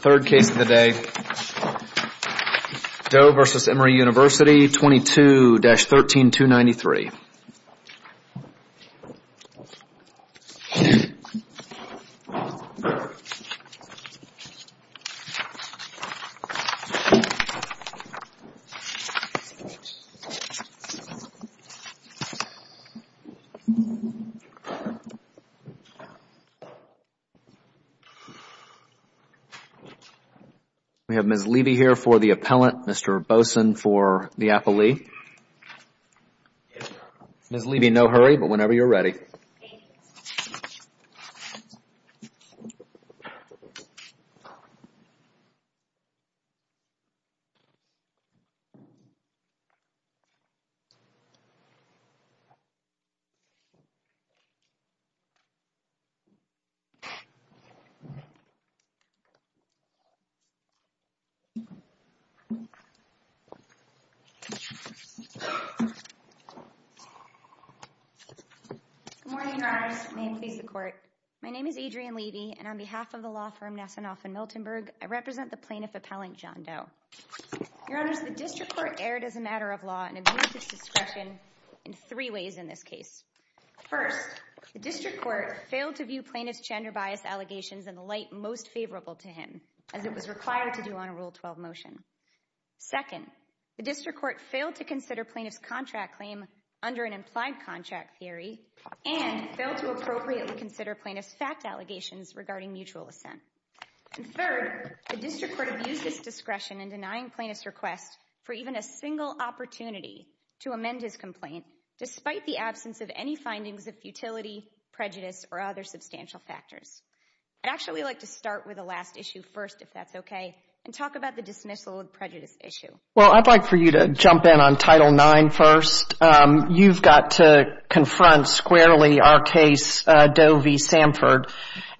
Third case of the day, Doe v. Emory University, 22-13, 293. We have Ms. Levy here for the appellant, Mr. Boson for the appellee. Yes, sir. Ms. Levy, no hurry, but whenever you're ready. Thank you. Good morning, Your Honors. May it please the Court. My name is Adrienne Levy, and on behalf of the law firm Nassinoff & Miltonburg, I represent the plaintiff appellant, John Doe. Your Honors, the District Court erred as a matter of law and exuded its discretion in three ways in this case. First, the District Court failed to view plaintiff's gender bias allegations in the light most favorable to him. As it was required to do on a Rule 12 motion. Second, the District Court failed to consider plaintiff's contract claim under an implied contract theory and failed to appropriately consider plaintiff's fact allegations regarding mutual assent. And third, the District Court abused its discretion in denying plaintiff's request for even a single opportunity to amend his complaint, despite the absence of any findings of futility, prejudice, or other substantial factors. I'd actually like to start with the last issue first, if that's okay, and talk about the dismissal and prejudice issue. Well, I'd like for you to jump in on Title IX first. You've got to confront squarely our case, Doe v. Sanford,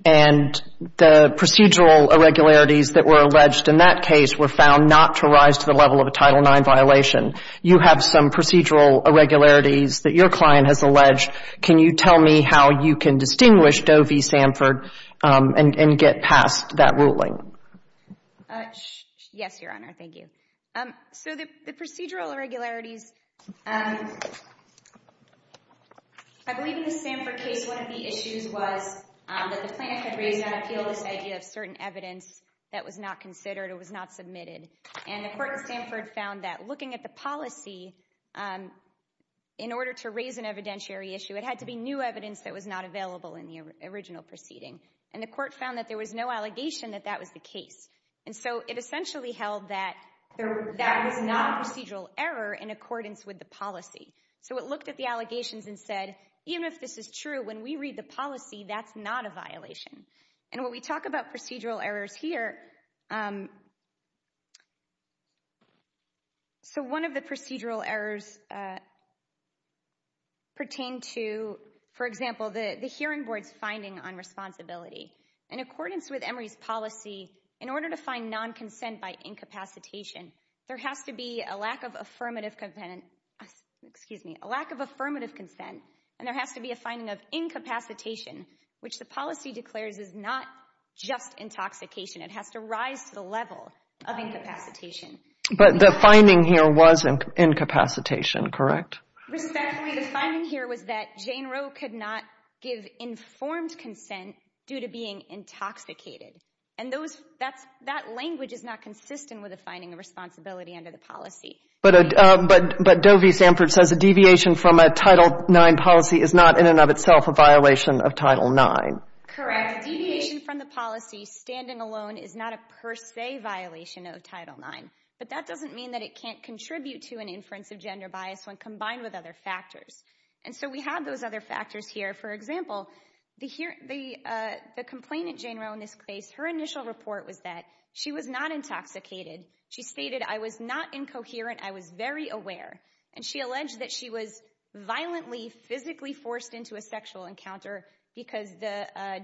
and the procedural irregularities that were alleged in that case were found not to rise to the level of a Title IX violation. You have some procedural irregularities that your client has alleged. Can you tell me how you can distinguish Doe v. Sanford and get past that ruling? Yes, Your Honor, thank you. So the procedural irregularities, I believe in the Sanford case, one of the issues was that the plaintiff had raised on appeal this idea of certain evidence that was not considered or was not submitted. And the court in Sanford found that looking at the policy, in order to raise an evidentiary issue, it had to be new evidence that was not available in the original proceeding. And the court found that there was no allegation that that was the case. And so it essentially held that that was not a procedural error in accordance with the policy. So it looked at the allegations and said, even if this is true, when we read the policy, that's not a violation. And when we talk about procedural errors here, so one of the procedural errors pertained to, for example, the hearing board's finding on responsibility. In accordance with Emory's policy, in order to find non-consent by incapacitation, there has to be a lack of affirmative consent and there has to be a finding of incapacitation, which the policy declares is not just intoxication. It has to rise to the level of incapacitation. But the finding here was incapacitation, correct? Respectfully, the finding here was that Jane Roe could not give informed consent due to being intoxicated. And that language is not consistent with a finding of responsibility under the policy. But Doe v. Sanford says a deviation from a Title IX policy is not in and of itself a violation of Title IX. Correct. A deviation from the policy standing alone is not a per se violation of Title IX. But that doesn't mean that it can't contribute to an inference of gender bias when combined with other factors. And so we have those other factors here. For example, the complainant, Jane Roe, in this case, her initial report was that she was not intoxicated. She stated, I was not incoherent, I was very aware. And she alleged that she was violently, physically forced into a sexual encounter because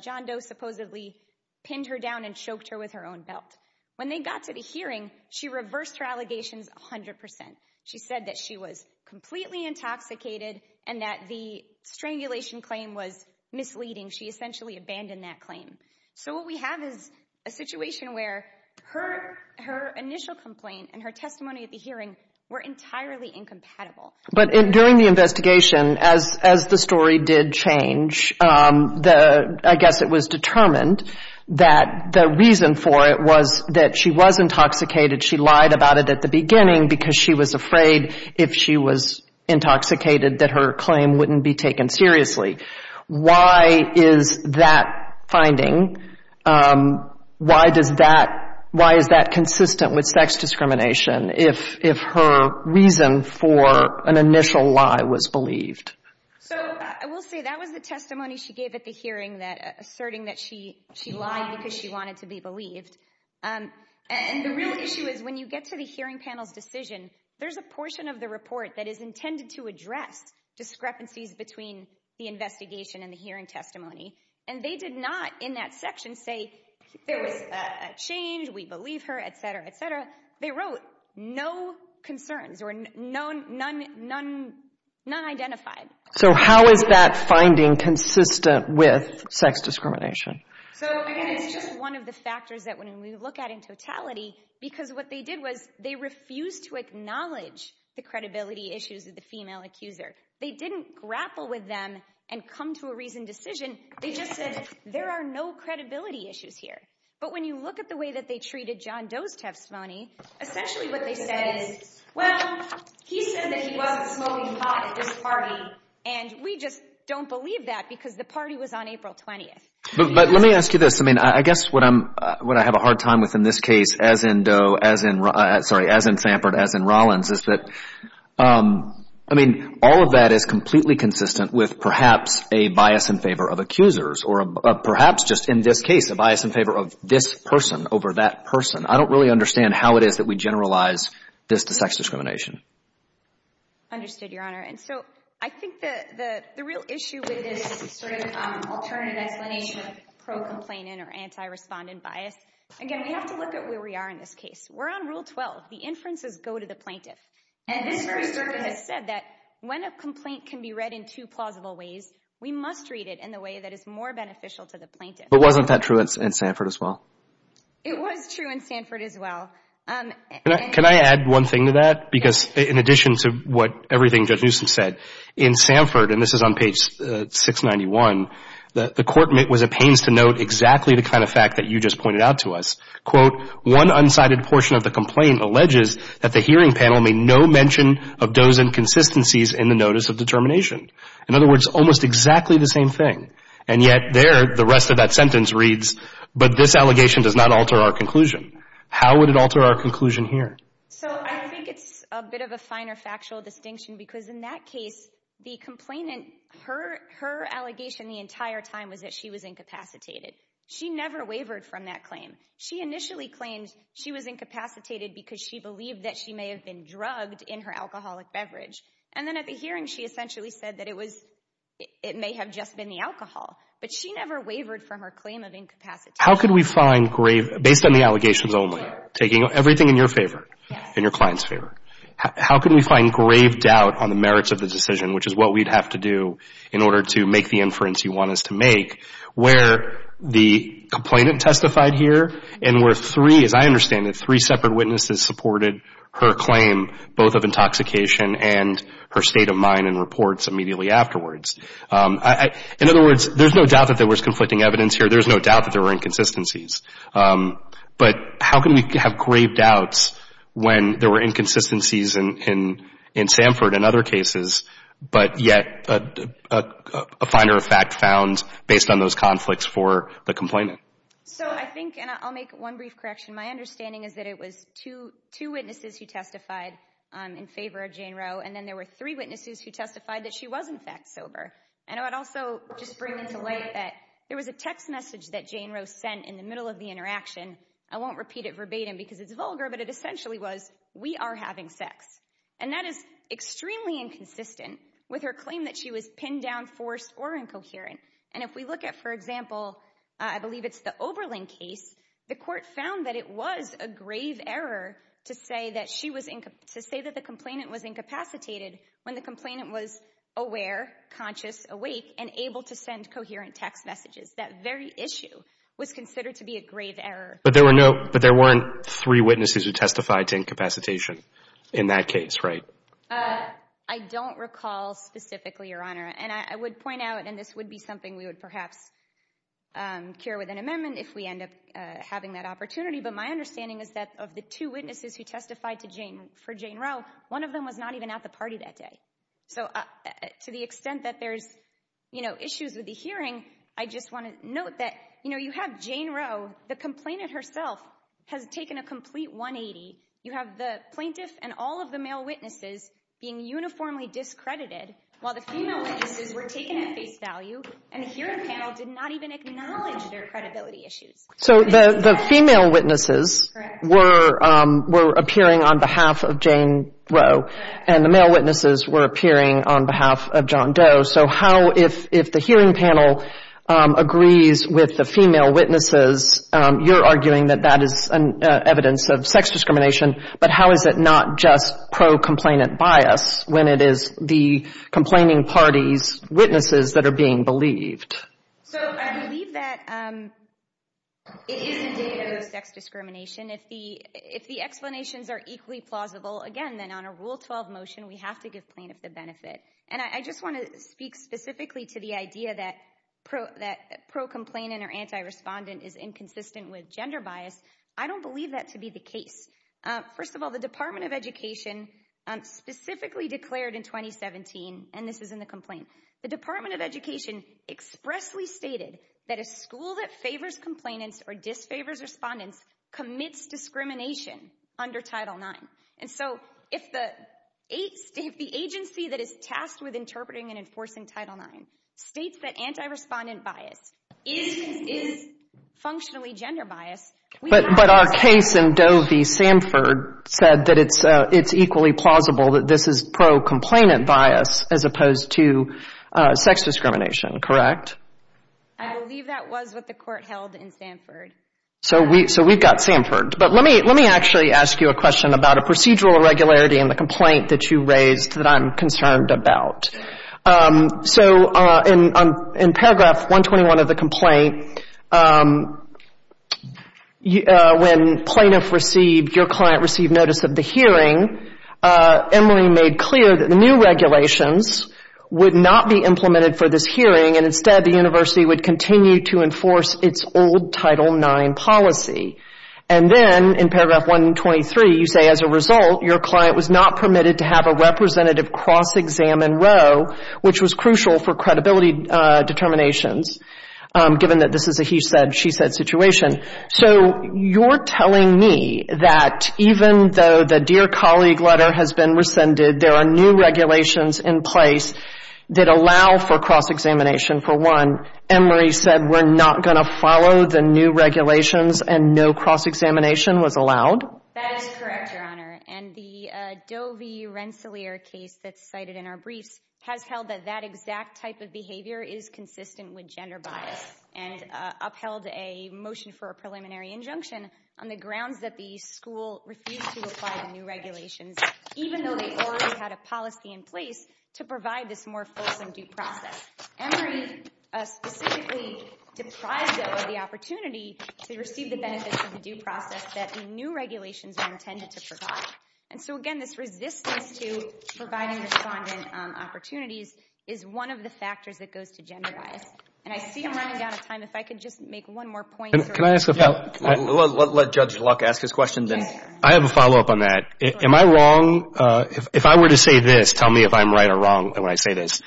John Doe supposedly pinned her down and choked her with her own belt. When they got to the hearing, she reversed her allegations 100%. She said that she was completely intoxicated and that the strangulation claim was misleading. She essentially abandoned that claim. So what we have is a situation where her initial complaint and her testimony at the hearing were entirely incompatible. But during the investigation, as the story did change, I guess it was determined that the reason for it was that she was intoxicated. She lied about it at the beginning because she was afraid if she was intoxicated that her claim wouldn't be taken seriously. Why is that finding, why is that consistent with sex discrimination if her reason for an initial lie was believed? So I will say that was the testimony she gave at the hearing, asserting that she lied because she wanted to be believed. And the real issue is when you get to the hearing panel's decision, there's a portion of the report that is intended to address discrepancies between the investigation and the hearing testimony. And they did not in that section say there was a change, we believe her, etc., etc. They wrote no concerns or none identified. So how is that finding consistent with sex discrimination? So again, it's just one of the factors that when we look at in totality because what they did was they refused to acknowledge the credibility issues of the female accuser. They didn't grapple with them and come to a reasoned decision. They just said there are no credibility issues here. But when you look at the way that they treated John Doe's testimony, essentially what they said is, well, he said that he wasn't smoking pot at this party, and we just don't believe that because the party was on April 20th. But let me ask you this. I mean, I guess what I have a hard time with in this case as in Samford, as in Rollins, is that all of that is completely consistent with perhaps a bias in favor of accusers or perhaps just in this case a bias in favor of this person over that person. I don't really understand how it is that we generalize this to sex discrimination. Understood, Your Honor. And so I think the real issue with this sort of alternative explanation of pro-complainant or anti-respondent bias, again, we have to look at where we are in this case. We're on Rule 12. The inferences go to the plaintiff. And this preservers has said that when a complaint can be read in two plausible ways, we must read it in the way that is more beneficial to the plaintiff. But wasn't that true in Samford as well? It was true in Samford as well. Can I add one thing to that? Because in addition to what everything Judge Newsom said, in Samford, and this is on page 691, the Court was at pains to note exactly the kind of fact that you just pointed out to us. Quote, One unsighted portion of the complaint alleges that the hearing panel made no mention of those inconsistencies in the notice of determination. In other words, almost exactly the same thing. And yet there, the rest of that sentence reads, But this allegation does not alter our conclusion. How would it alter our conclusion here? So I think it's a bit of a finer factual distinction, because in that case, the complainant, her allegation the entire time was that she was incapacitated. She never wavered from that claim. She initially claimed she was incapacitated because she believed that she may have been drugged in her alcoholic beverage. And then at the hearing, she essentially said that it was, it may have just been the alcohol. But she never wavered from her claim of incapacitation. How could we find grave, based on the allegations only, taking everything in your favor, in your client's favor, how can we find grave doubt on the merits of the decision, which is what we'd have to do in order to make the inference you want us to make, where the complainant testified here and where three, as I understand it, three separate witnesses supported her claim, both of intoxication and her state of mind in reports immediately afterwards. In other words, there's no doubt that there was conflicting evidence here. There's no doubt that there were inconsistencies. But how can we have grave doubts when there were inconsistencies in Sanford and other cases, but yet a finer fact found based on those conflicts for the complainant? So I think, and I'll make one brief correction. My understanding is that it was two witnesses who testified in favor of Jane Roe, and then there were three witnesses who testified that she was, in fact, sober. And I would also just bring into light that there was a text message that Jane Roe sent in the middle of the interaction. I won't repeat it verbatim because it's vulgar, but it essentially was, we are having sex. And that is extremely inconsistent with her claim that she was pinned down, forced, or incoherent. And if we look at, for example, I believe it's the Oberlin case, the court found that it was a grave error to say that the complainant was incapacitated when the complainant was aware, conscious, awake, and able to send coherent text messages. That very issue was considered to be a grave error. But there were no, but there weren't three witnesses who testified to incapacitation in that case, right? I don't recall specifically, Your Honor. And I would point out, and this would be something we would perhaps cure with an amendment if we end up having that opportunity. But my understanding is that of the two witnesses who testified for Jane Roe, one of them was not even at the party that day. So to the extent that there's, you know, issues with the hearing, I just want to note that, you know, you have Jane Roe, the complainant herself has taken a complete 180. You have the plaintiff and all of the male witnesses being uniformly discredited, while the female witnesses were taken at face value, and the hearing panel did not even acknowledge their credibility issues. So the female witnesses were appearing on behalf of Jane Roe, and the male witnesses were appearing on behalf of John Doe. So how, if the hearing panel agrees with the female witnesses, you're arguing that that is evidence of sex discrimination, but how is it not just pro-complainant bias when it is the complaining party's witnesses that are being believed? So I believe that it is indicative of sex discrimination. If the explanations are equally plausible, again, then on a Rule 12 motion, we have to give plaintiff the benefit. And I just want to speak specifically to the idea that pro-complainant or anti-respondent is inconsistent with gender bias. I don't believe that to be the case. First of all, the Department of Education specifically declared in 2017, and this is in the complaint, the Department of Education expressly stated that a school that favors complainants or disfavors respondents commits discrimination under Title IX. And so if the agency that is tasked with interpreting and enforcing Title IX states that anti-respondent bias is functionally gender bias, we have to argue. But our case in Doe v. Sanford said that it's equally plausible that this is pro-complainant bias as opposed to sex discrimination, correct? I believe that was what the court held in Sanford. So we've got Sanford. But let me actually ask you a question about a procedural irregularity in the complaint that you raised that I'm concerned about. So in paragraph 121 of the complaint, when plaintiff received, your client received notice of the hearing, Emory made clear that the new regulations would not be implemented for this hearing and instead the university would continue to enforce its old Title IX policy. And then in paragraph 123, you say, as a result your client was not permitted to have a representative cross-examine row, which was crucial for credibility determinations given that this is a he said, she said situation. So you're telling me that even though the dear colleague letter has been rescinded, there are new regulations in place that allow for cross-examination for one, Emory said we're not going to follow the new regulations and no cross-examination was allowed? That is correct, Your Honor. And the Doe v. Rensselaer case that's cited in our briefs has held that that exact type of behavior is consistent with gender bias and upheld a motion for a preliminary injunction on the grounds that the school refused to apply the new regulations, even though they already had a policy in place to provide this more fulsome due process. Emory specifically deprived Doe of the opportunity to receive the benefits of the due process that the new regulations were intended to provide. And so, again, this resistance to providing respondent opportunities is one of the factors that goes to gender bias. And I see I'm running out of time. If I could just make one more point. Let Judge Luck ask his question then. I have a follow-up on that. Am I wrong? If I were to say this, tell me if I'm right or wrong when I say this.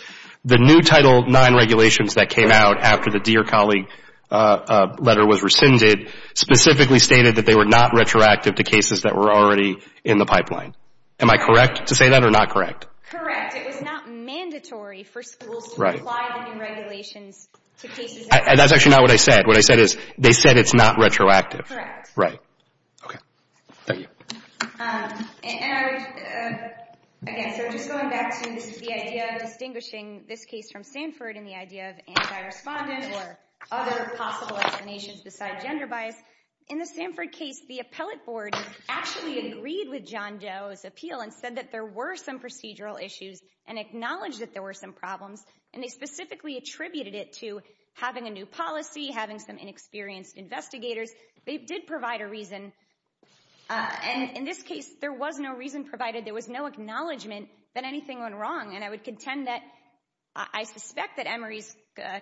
The new Title IX regulations that came out after the dear colleague letter was rescinded specifically stated that they were not retroactive to cases that were already in the pipeline. Am I correct to say that or not correct? Correct. It was not mandatory for schools to apply the new regulations to cases that were already in the pipeline. And that's actually not what I said. What I said is they said it's not retroactive. Correct. Right. Okay. Thank you. And I would, again, so just going back to the idea of distinguishing this case from Stanford and the idea of anti-respondent or other possible explanations besides gender bias, in the Stanford case, the appellate board actually agreed with John Doe's appeal and said that there were some procedural issues and acknowledged that there were some problems. And they specifically attributed it to having a new policy, having some inexperienced investigators. They did provide a reason. And in this case, there was no reason provided. There was no acknowledgment that anything went wrong. And I would contend that I suspect that Emory's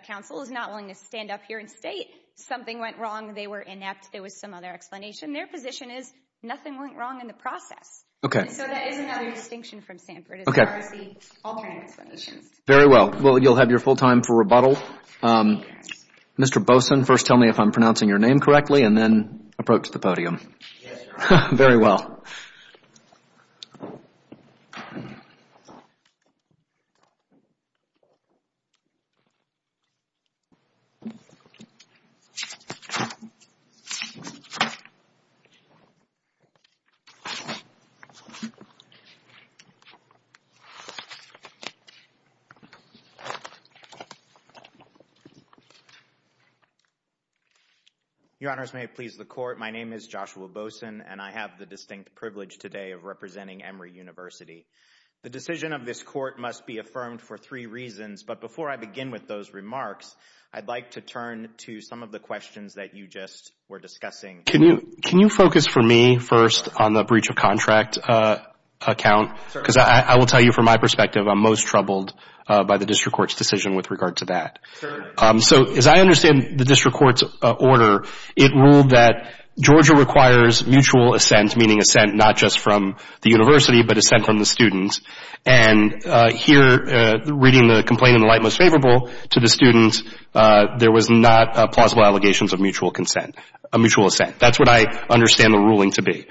counsel is not willing to stand up here and state something went wrong, they were inept, there was some other explanation. Their position is nothing went wrong in the process. Okay. So that is another distinction from Stanford as far as the alternative explanations. Very well. Well, you'll have your full time for rebuttal. Mr. Bosen, first tell me if I'm pronouncing your name correctly and then approach the podium. Yes, Your Honor. Very well. Thank you. Your Honors, may it please the Court, my name is Joshua Bosen and I have the distinct privilege today of representing Emory University. The decision of this Court must be affirmed for three reasons. But before I begin with those remarks, I'd like to turn to some of the questions that you just were discussing. Can you focus for me first on the breach of contract account? Because I will tell you from my perspective, I'm most troubled by the district court's decision with regard to that. So as I understand the district court's order, it ruled that Georgia requires mutual assent, meaning assent not just from the university, but assent from the students. And here, reading the complaint in the light most favorable to the students, there was not plausible allegations of mutual consent, a mutual assent. That's what I understand the ruling to be.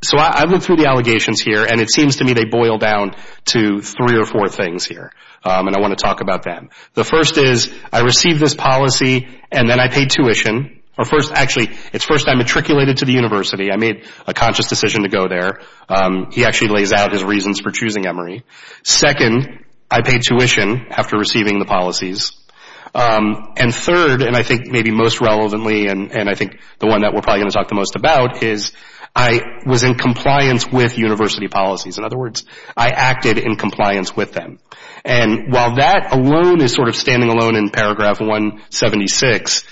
So I looked through the allegations here and it seems to me they boil down to three or four things here. And I want to talk about them. The first is I received this policy and then I paid tuition. Actually, it's first I matriculated to the university. I made a conscious decision to go there. He actually lays out his reasons for choosing Emory. Second, I paid tuition after receiving the policies. And third, and I think maybe most relevantly, and I think the one that we're probably going to talk the most about, is I was in compliance with university policies. In other words, I acted in compliance with them. And while that alone is sort of standing alone in paragraph 176,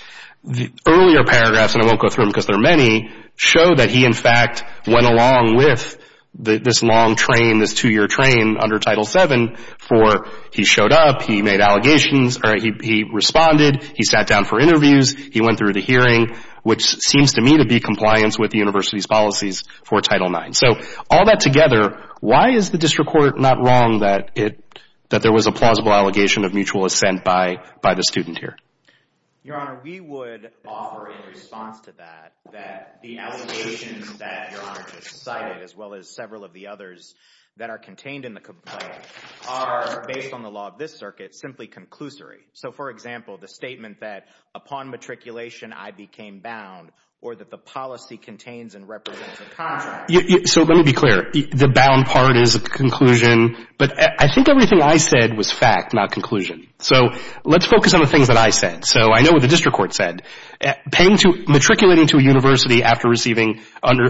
the earlier paragraphs, and I won't go through them because there are many, show that he, in fact, went along with this long train, this two-year train under Title VII for he showed up, he made allegations, he responded, he sat down for interviews, he went through the hearing, which seems to me to be compliance with the university's policies for Title IX. So all that together, why is the district court not wrong that there was a plausible allegation of mutual assent by the student here? Your Honor, we would offer in response to that that the allegations that Your Honor just cited as well as several of the others that are contained in the complaint are, based on the law of this circuit, simply conclusory. So for example, the statement that upon matriculation I became bound or that the policy contains and represents a contract. So let me be clear. The bound part is a conclusion, but I think everything I said was fact, not conclusion. So let's focus on the things that I said. So I know what the district court said. Matriculating to a university after receiving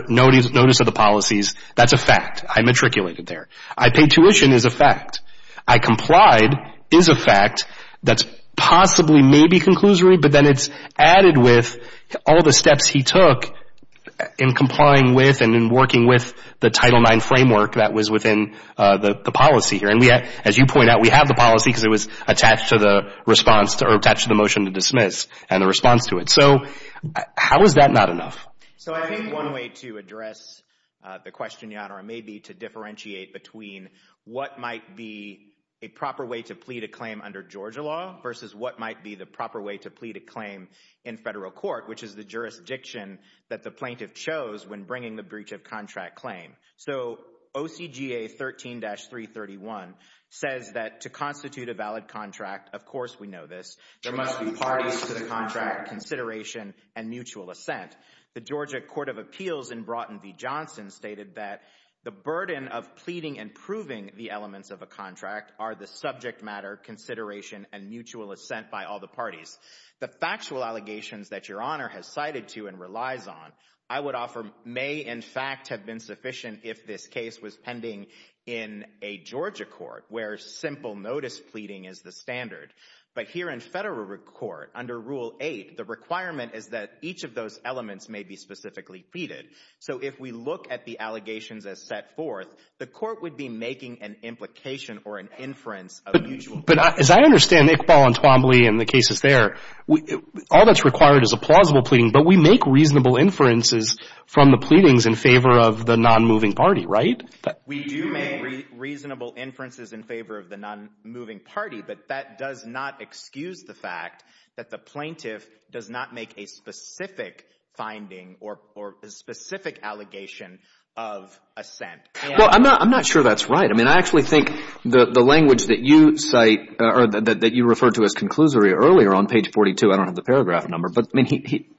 notice of the policies, that's a fact. I matriculated there. I paid tuition is a fact. I complied is a fact that's possibly maybe conclusory, but then it's added with all the steps he took in complying with and in working with the Title IX framework that was within the policy here. And as you point out, we have the policy because it was attached to the response or attached to the motion to dismiss and the response to it. So how is that not enough? So I think one way to address the question, Your Honor, may be to differentiate between what might be a proper way to plead a claim under Georgia law versus what might be the proper way to plead a claim in federal court, which is the jurisdiction that the plaintiff chose when bringing the breach of contract claim. So OCGA 13-331 says that to constitute a valid contract, of course we know this, there must be parties to the contract consideration and mutual assent. The Georgia Court of Appeals in Broughton v. Johnson stated that the burden of pleading and proving the elements of a contract are the subject matter, consideration and mutual assent by all the parties. The factual allegations that Your Honor has cited to and relies on, I would offer, may in fact have been sufficient if this case was pending in a Georgia court where simple notice pleading is the standard. But here in federal court, under Rule 8, the requirement is that each of those elements may be specifically pleaded. So if we look at the allegations as set forth, the court would be making an implication or an inference of mutual assent. But as I understand Iqbal and Twombly and the cases there, all that's required is a plausible pleading, but we make reasonable inferences from the pleadings in favor of the non-moving party, right? We do make reasonable inferences in favor of the non-moving party, but that does not excuse the fact that the plaintiff does not make a specific finding or a specific allegation of assent. Well, I'm not sure that's right. I mean, I actually think the language that you cite or that you referred to as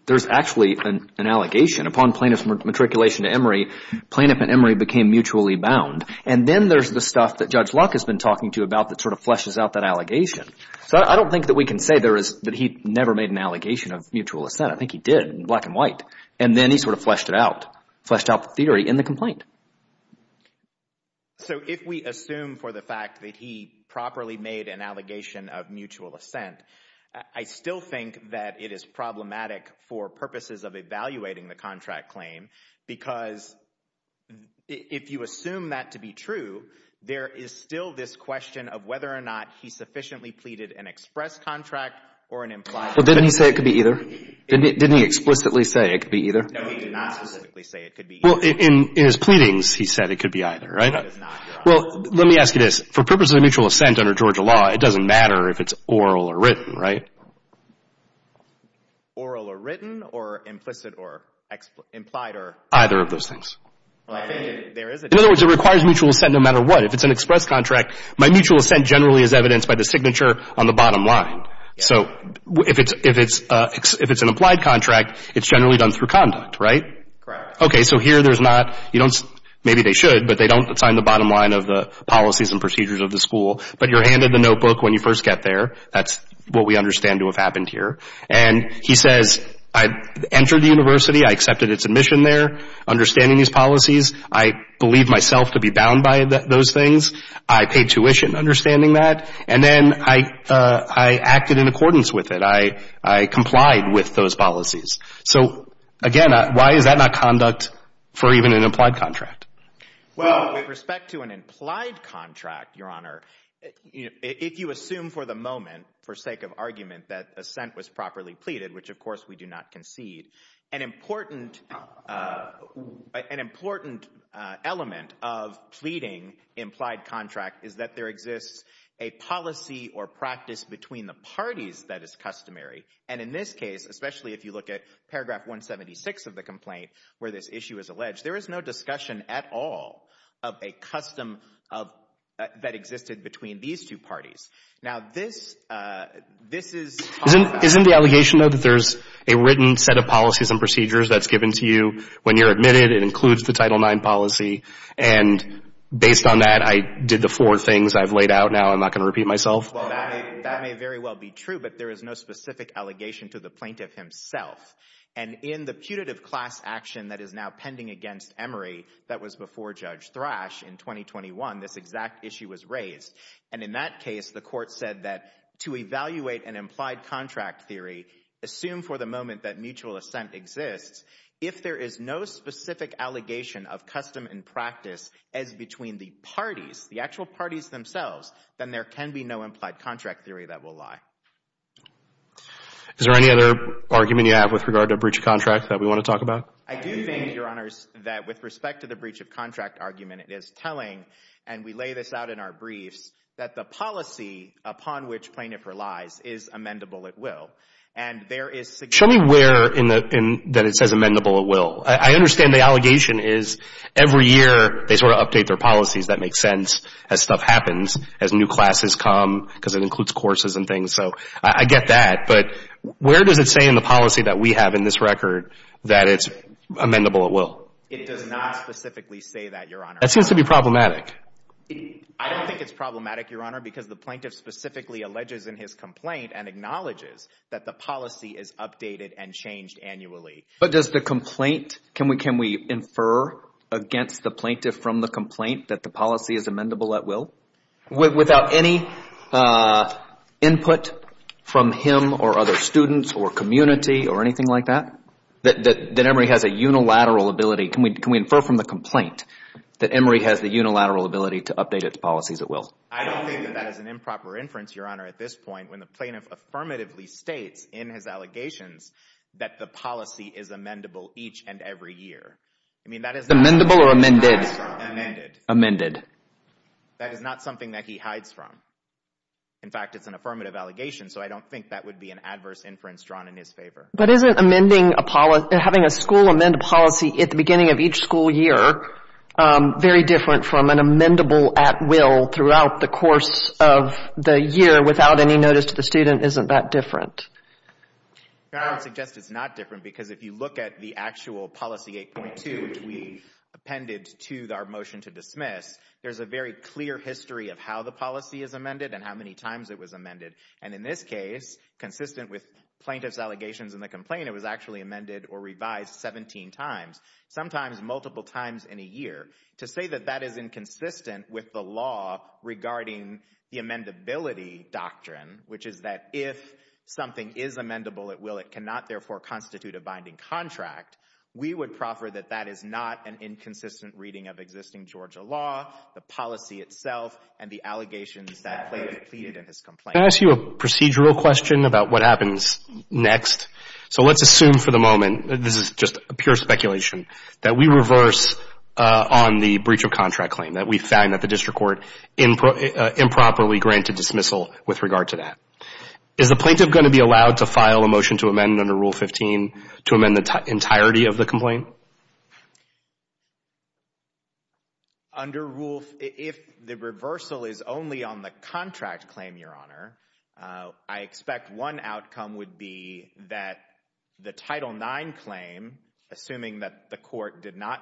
there's actually an allegation. Upon plaintiff's matriculation to Emory, plaintiff and Emory became mutually bound. And then there's the stuff that Judge Luck has been talking to about that sort of fleshes out that allegation. So I don't think that we can say that he never made an allegation of mutual assent. I think he did in black and white. And then he sort of fleshed it out, fleshed out the theory in the complaint. So if we assume for the fact that he properly made an allegation of mutual assent for purposes of evaluating the contract claim, because if you assume that to be true, there is still this question of whether or not he sufficiently pleaded an express contract or an implied contract. Well, didn't he say it could be either? Didn't he explicitly say it could be either? No, he did not specifically say it could be either. Well, in his pleadings, he said it could be either, right? No, it does not. Well, let me ask you this. For purposes of mutual assent under Georgia law, it doesn't matter if it's oral or written, right? Oral or written or implicit or implied or? Either of those things. In other words, it requires mutual assent no matter what. If it's an express contract, my mutual assent generally is evidenced by the signature on the bottom line. So if it's an applied contract, it's generally done through conduct, right? Correct. Okay. So here there's not, you don't, maybe they should, but they don't assign the bottom line of the policies and procedures of the school, but you're handed the notebook when you first get there. That's what we understand to have happened here. And he says, I entered the university, I accepted its admission there, understanding these policies. I believe myself to be bound by those things. I paid tuition understanding that. And then I acted in accordance with it. I complied with those policies. So, again, why is that not conduct for even an implied contract? Well, with respect to an implied contract, Your Honor, if you assume for the moment, for sake of argument, that assent was properly pleaded, which of course we do not concede, an important element of pleading implied contract is that there exists a policy or practice between the parties that is customary. And in this case, especially if you look at paragraph 176 of the complaint where this issue is alleged, there is no discussion at all of a custom that existed between these two parties. Now, this is – Isn't the allegation, though, that there's a written set of policies and procedures that's given to you when you're admitted, it includes the Title IX policy, and based on that, I did the four things I've laid out now, I'm not going to repeat myself? Well, that may very well be true, but there is no specific allegation to the plaintiff himself. And in the putative class action that is now pending against Emory that was before Judge Thrash in 2021, this exact issue was raised. And in that case, the Court said that to evaluate an implied contract theory, assume for the moment that mutual assent exists, if there is no specific allegation of custom and practice as between the parties, the actual parties themselves, then there can be no implied contract theory that will lie. Is there any other argument you have with regard to a breach of contract that we want to talk about? I do think, Your Honors, that with respect to the breach of contract argument, it is telling, and we lay this out in our briefs, that the policy upon which plaintiff relies is amendable at will. And there is significant – Show me where in the – that it says amendable at will. I understand the allegation is every year they sort of update their policies. That makes sense as stuff happens, as new classes come, because it includes courses and things, so I get that. But where does it say in the policy that we have in this record that it's amendable at will? It does not specifically say that, Your Honor. That seems to be problematic. I don't think it's problematic, Your Honor, because the plaintiff specifically alleges in his complaint and acknowledges that the policy is updated and changed annually. But does the complaint – can we infer against the plaintiff from the complaint that the policy is amendable at will? Without any input from him or other students or community or anything like that? That Emory has a unilateral ability – can we infer from the complaint that Emory has the unilateral ability to update its policies at will? I don't think that that is an improper inference, Your Honor, at this point when the plaintiff affirmatively states in his allegations that the policy is amendable each and every year. I mean, that is not – Amendable or amended? Amended. Amended. That is not something that he hides from. In fact, it's an affirmative allegation, so I don't think that would be an adverse inference drawn in his favor. But isn't amending a – having a school amend a policy at the beginning of each school year very different from an amendable at will throughout the course of the year without any notice to the student? Isn't that different? Your Honor, I would suggest it's not different because if you look at the actual policy 8.2, which we appended to our motion to dismiss, there's a very clear history of how the policy is amended and how many times it was amended. And in this case, consistent with plaintiff's allegations in the complaint, it was actually amended or revised 17 times, sometimes multiple times in a year. To say that that is inconsistent with the law regarding the amendability doctrine, which is that if something is amendable at will, it cannot therefore constitute a binding contract, we would proffer that that is not an inconsistent reading of existing Georgia law, the policy itself, and the allegations that plaintiff pleaded in his complaint. Can I ask you a procedural question about what happens next? So let's assume for the moment – this is just a pure speculation – that we reverse on the breach of contract claim, that we find that the district court improperly granted dismissal with regard to that. Is the plaintiff going to be allowed to file a motion to amend under Rule 15 to amend the entirety of the complaint? Under Rule – if the reversal is only on the contract claim, Your Honor, I expect one outcome would be that the Title IX claim, assuming that the court did not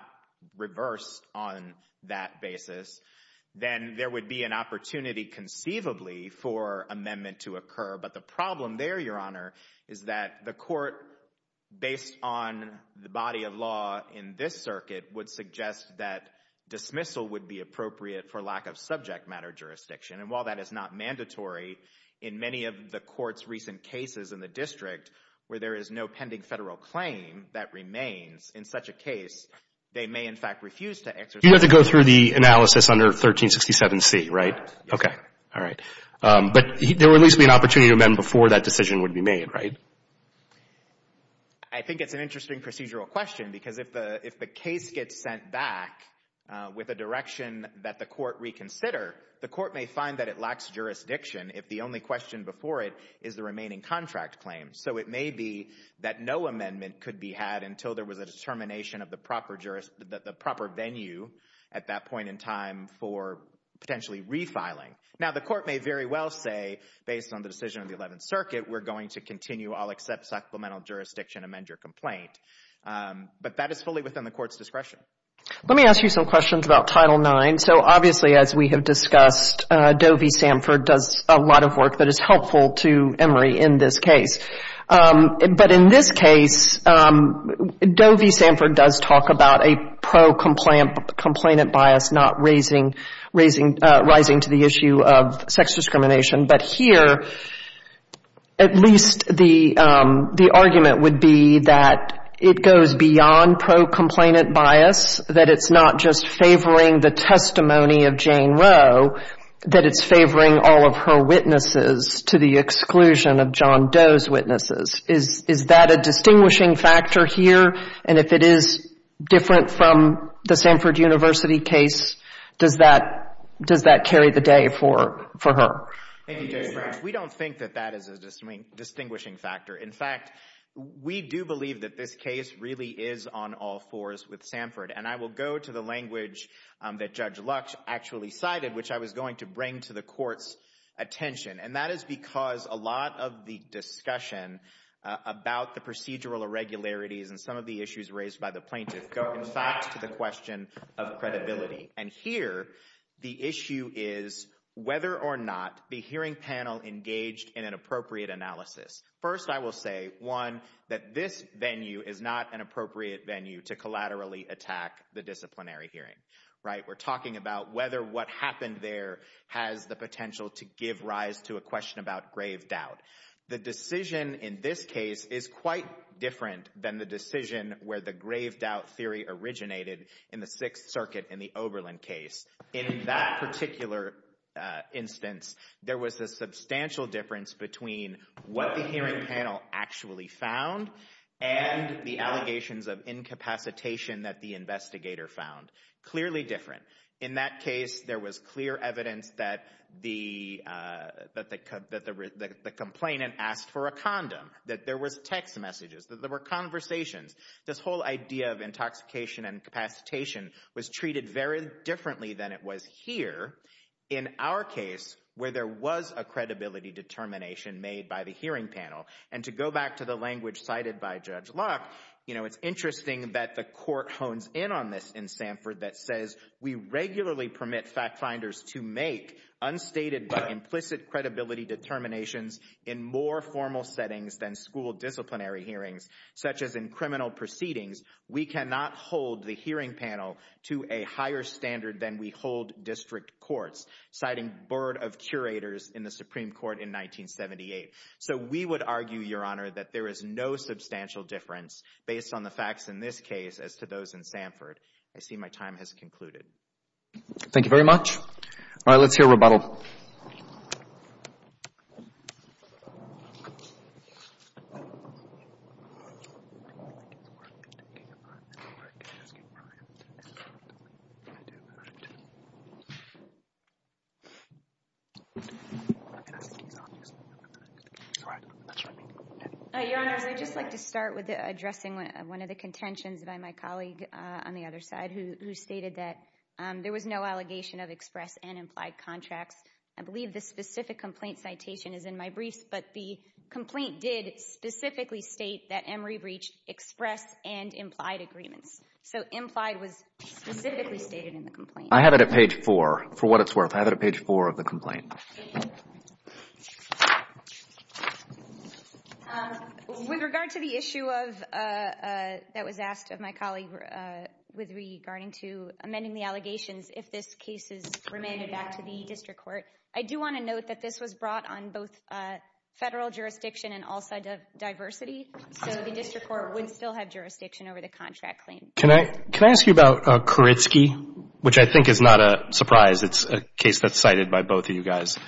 reverse on that basis, then there would be an opportunity conceivably for amendment to occur. But the problem there, Your Honor, is that the court, based on the body of law in this circuit, would suggest that dismissal would be appropriate for lack of subject matter jurisdiction. And while that is not mandatory, in many of the court's recent cases in the district where there is no pending Federal claim that remains in such a case, they may in fact refuse to exercise that right. You have to go through the analysis under 1367C, right? Yes. Okay. All right. But there would at least be an opportunity to amend before that decision would be made, right? I think it's an interesting procedural question because if the case gets sent back with a direction that the court reconsider, the court may find that it lacks jurisdiction if the only question before it is the remaining contract claim. So it may be that no amendment could be had until there was a determination of the proper venue at that point in time for potentially refiling. Now, the court may very well say, based on the decision of the Eleventh Circuit, we're going to continue. I'll accept supplemental jurisdiction, amend your complaint. But that is fully within the court's discretion. Let me ask you some questions about Title IX. So obviously, as we have discussed, Doe v. Sanford does a lot of work that is helpful to Emory in this case. But in this case, Doe v. Sanford does talk about a pro-complainant bias not rising to the issue of sex discrimination. But here, at least the argument would be that it goes beyond pro-complainant bias, that it's not just favoring the testimony of Jane Roe, that it's favoring all of her witnesses to the exclusion of John Doe's witnesses. Is that a distinguishing factor here? And if it is different from the Sanford University case, does that carry the day for her? Thank you, Judge Branch. We don't think that that is a distinguishing factor. In fact, we do believe that this case really is on all fours with Sanford. And I will go to the language that Judge Lux actually cited, which I was going to bring to the court's attention. And that is because a lot of the discussion about the procedural irregularities and some of the issues raised by the plaintiff go, in fact, to the question of credibility. And here, the issue is whether or not the hearing panel engaged in an appropriate analysis. First, I will say, one, that this venue is not an appropriate venue to collaterally attack the disciplinary hearing. We're talking about whether what happened there has the potential to give rise to a question about grave doubt. The decision in this case is quite different than the decision where the grave doubt theory originated in the Sixth Circuit in the Oberlin case. In that particular instance, there was a substantial difference between what the hearing panel actually found and the allegations of incapacitation that the investigator found. Clearly different. In that case, there was clear evidence that the complainant asked for a condom, that there was text messages, that there were conversations. This whole idea of intoxication and capacitation was treated very differently than it was here in our case, where there was a credibility determination made by the hearing panel. And to go back to the language cited by Judge Locke, it's interesting that the court hones in on this in Sanford that says we regularly permit fact finders to make unstated but implicit credibility determinations in more formal settings than school disciplinary hearings, such as in criminal proceedings. We cannot hold the hearing panel to a higher standard than we hold district courts, citing Byrd of curators in the Supreme Court in 1978. So we would argue, Your Honor, that there is no substantial difference based on the facts in this case as to those in Sanford. I see my time has concluded. Thank you very much. All right, let's hear a rebuttal. Your Honors, I'd just like to start with addressing one of the contentions by my colleague on the other side who stated that there was no allegation of express and implied contracts. I believe the specific complaint citation is in my briefs, but the complaint did specifically state that Emory breached express and implied agreements. So implied was specifically stated in the complaint. I have it at page 4, for what it's worth. I have it at page 4 of the complaint. Thank you. With regard to the issue of... that was asked of my colleague with regarding to amending the allegations if this case is remanded back to the district court, I do want to note that this was brought on both federal jurisdiction and all sides of diversity, so the district court would still have jurisdiction over the contract claim. Can I ask you about Kuritzky, which I think is not a surprise. It's a case that's cited by both of you guys.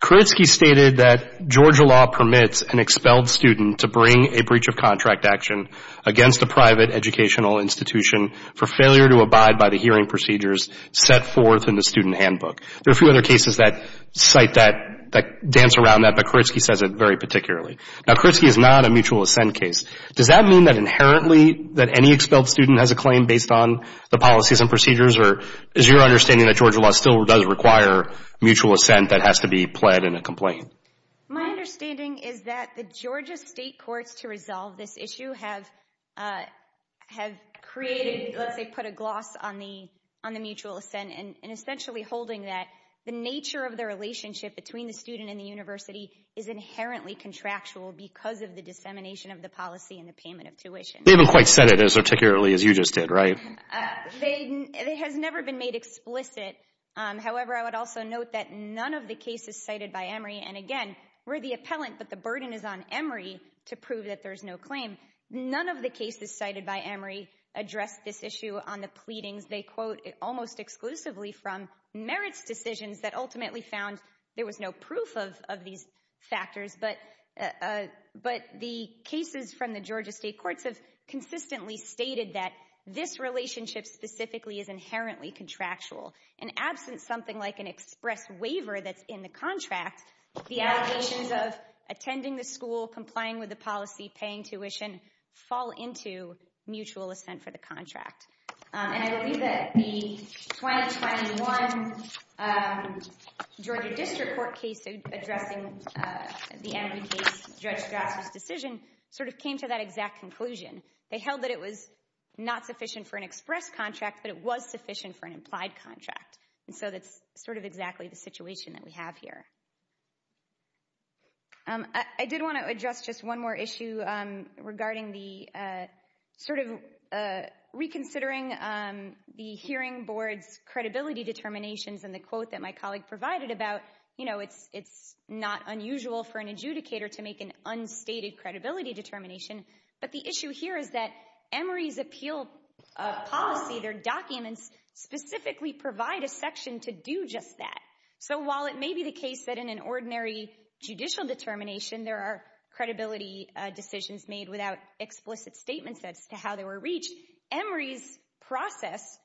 Kuritzky stated that Georgia law permits an expelled student to bring a breach of contract action against a private educational institution for failure to abide by the hearing procedures set forth in the student handbook. There are a few other cases that cite that, that dance around that, but Kuritzky says it very particularly. Now, Kuritzky is not a mutual assent case. Does that mean that inherently that any expelled student has a claim based on the policies and procedures, or is your understanding that Georgia law still does require mutual assent that has to be pled in a complaint? My understanding is that the Georgia state courts to resolve this issue have created, let's say put a gloss on the mutual assent and essentially holding that the nature of the relationship between the student and the university is inherently contractual because of the dissemination of the policy and the payment of tuition. They haven't quite said it as articulately as you just did, right? It has never been made explicit. However, I would also note that none of the cases cited by Emory, and again, we're the appellant, but the burden is on Emory to prove that there's no claim. None of the cases cited by Emory address this issue on the pleadings they quote almost exclusively from merits decisions that ultimately found there was no proof of these factors, but the cases from the Georgia state courts have consistently stated that this relationship specifically is inherently contractual. In absence of something like an express waiver that's in the contract, the allegations of attending the school, complying with the policy, paying tuition, fall into mutual assent for the contract. And I believe that the 2021 Georgia district court case addressing the Emory case, Judge Strasser's decision, sort of came to that exact conclusion. They held that it was not sufficient for an express contract, but it was sufficient for an implied contract. And so that's sort of exactly the situation that we have here. I did want to address just one more issue regarding the sort of reconsidering the hearing board's credibility determinations and the quote that my colleague provided about, you know, it's not unusual for an adjudicator to make an unstated credibility determination, but the issue here is that Emory's appeal policy, their documents specifically provide a section to do just that. So while it may be the case that in an ordinary judicial determination there are credibility decisions made without explicit statements as to how they were reached, Emory's process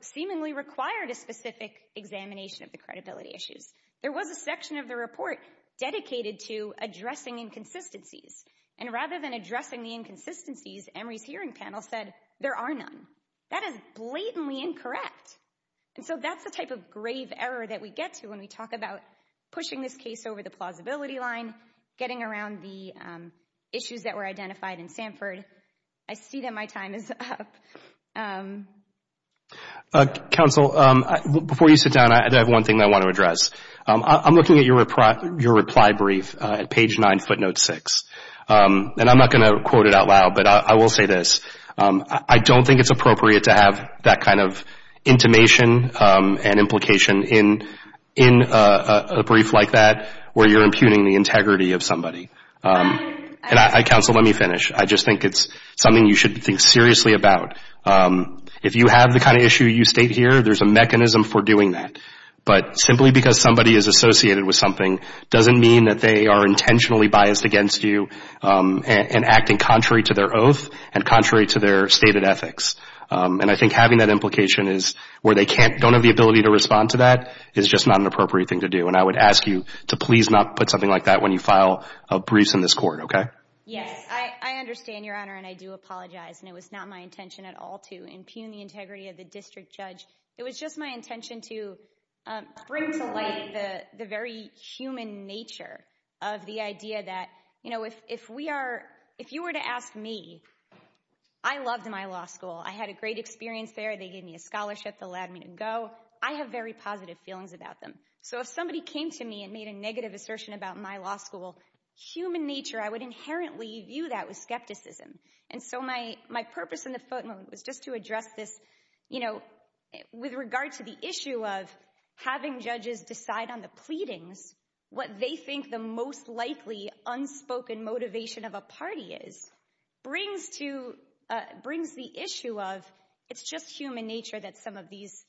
seemingly required a specific examination of the credibility issues. There was a section of the report dedicated to addressing inconsistencies. And rather than addressing the inconsistencies, Emory's hearing panel said there are none. That is blatantly incorrect. And so that's the type of grave error that we get to when we talk about pushing this case over the plausibility line, getting around the issues that were identified in Sanford. I see that my time is up. Counsel, before you sit down, I have one thing I want to address. I'm looking at your reply brief at page 9, footnote 6. And I'm not going to quote it out loud, but I will say this. I don't think it's appropriate to have that kind of intimation and implication in a brief like that where you're impugning the integrity of somebody. And, Counsel, let me finish. I just think it's something you should think seriously about. If you have the kind of issue you state here, there's a mechanism for doing that. But simply because somebody is associated with something doesn't mean that they are intentionally biased against you and acting contrary to their oath and contrary to their stated ethics. And I think having that implication is where they don't have the ability to respond to that is just not an appropriate thing to do. And I would ask you to please not put something like that when you file briefs in this court, okay? Yes, I understand, Your Honor, and I do apologize. And it was not my intention at all to impugn the integrity of the district judge. It was just my intention to bring to light the very human nature of the idea that, you know, if you were to ask me, I loved my law school. I had a great experience there. They gave me a scholarship that allowed me to go. I have very positive feelings about them. So if somebody came to me and made a negative assertion about my law school, human nature, I would inherently view that with skepticism. And so my purpose in the footnote was just to address this, you know, with regard to the issue of having judges decide on the pleadings, what they think the most likely unspoken motivation of a party is, brings the issue of it's just human nature that some of these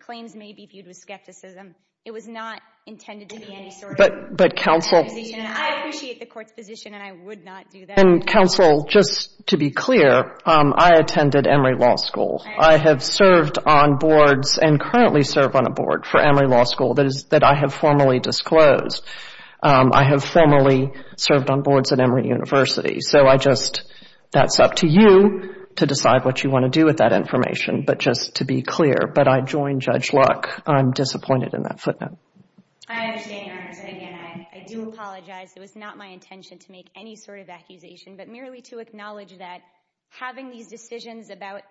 claims may be viewed with skepticism. It was not intended to be any sort of accusation. I appreciate the court's position, and I would not do that. Counsel, just to be clear, I attended Emory Law School. I have served on boards and currently serve on a board for Emory Law School that I have formally disclosed. I have formally served on boards at Emory University. So I just, that's up to you to decide what you want to do with that information. But just to be clear, but I joined Judge Luck. I'm disappointed in that footnote. I understand, Your Honor. So again, I do apologize. It was not my intention to make any sort of accusation, but merely to acknowledge that having these decisions about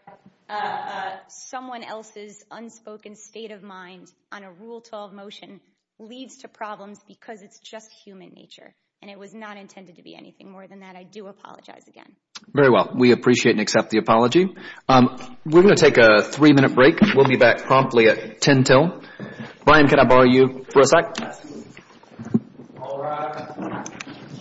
someone else's unspoken state of mind on a Rule 12 motion leads to problems because it's just human nature, and it was not intended to be anything more than that. I do apologize again. Very well. We appreciate and accept the apology. We're going to take a three-minute break. We'll be back promptly at 10 till. Brian, can I borrow you for a sec? All rise.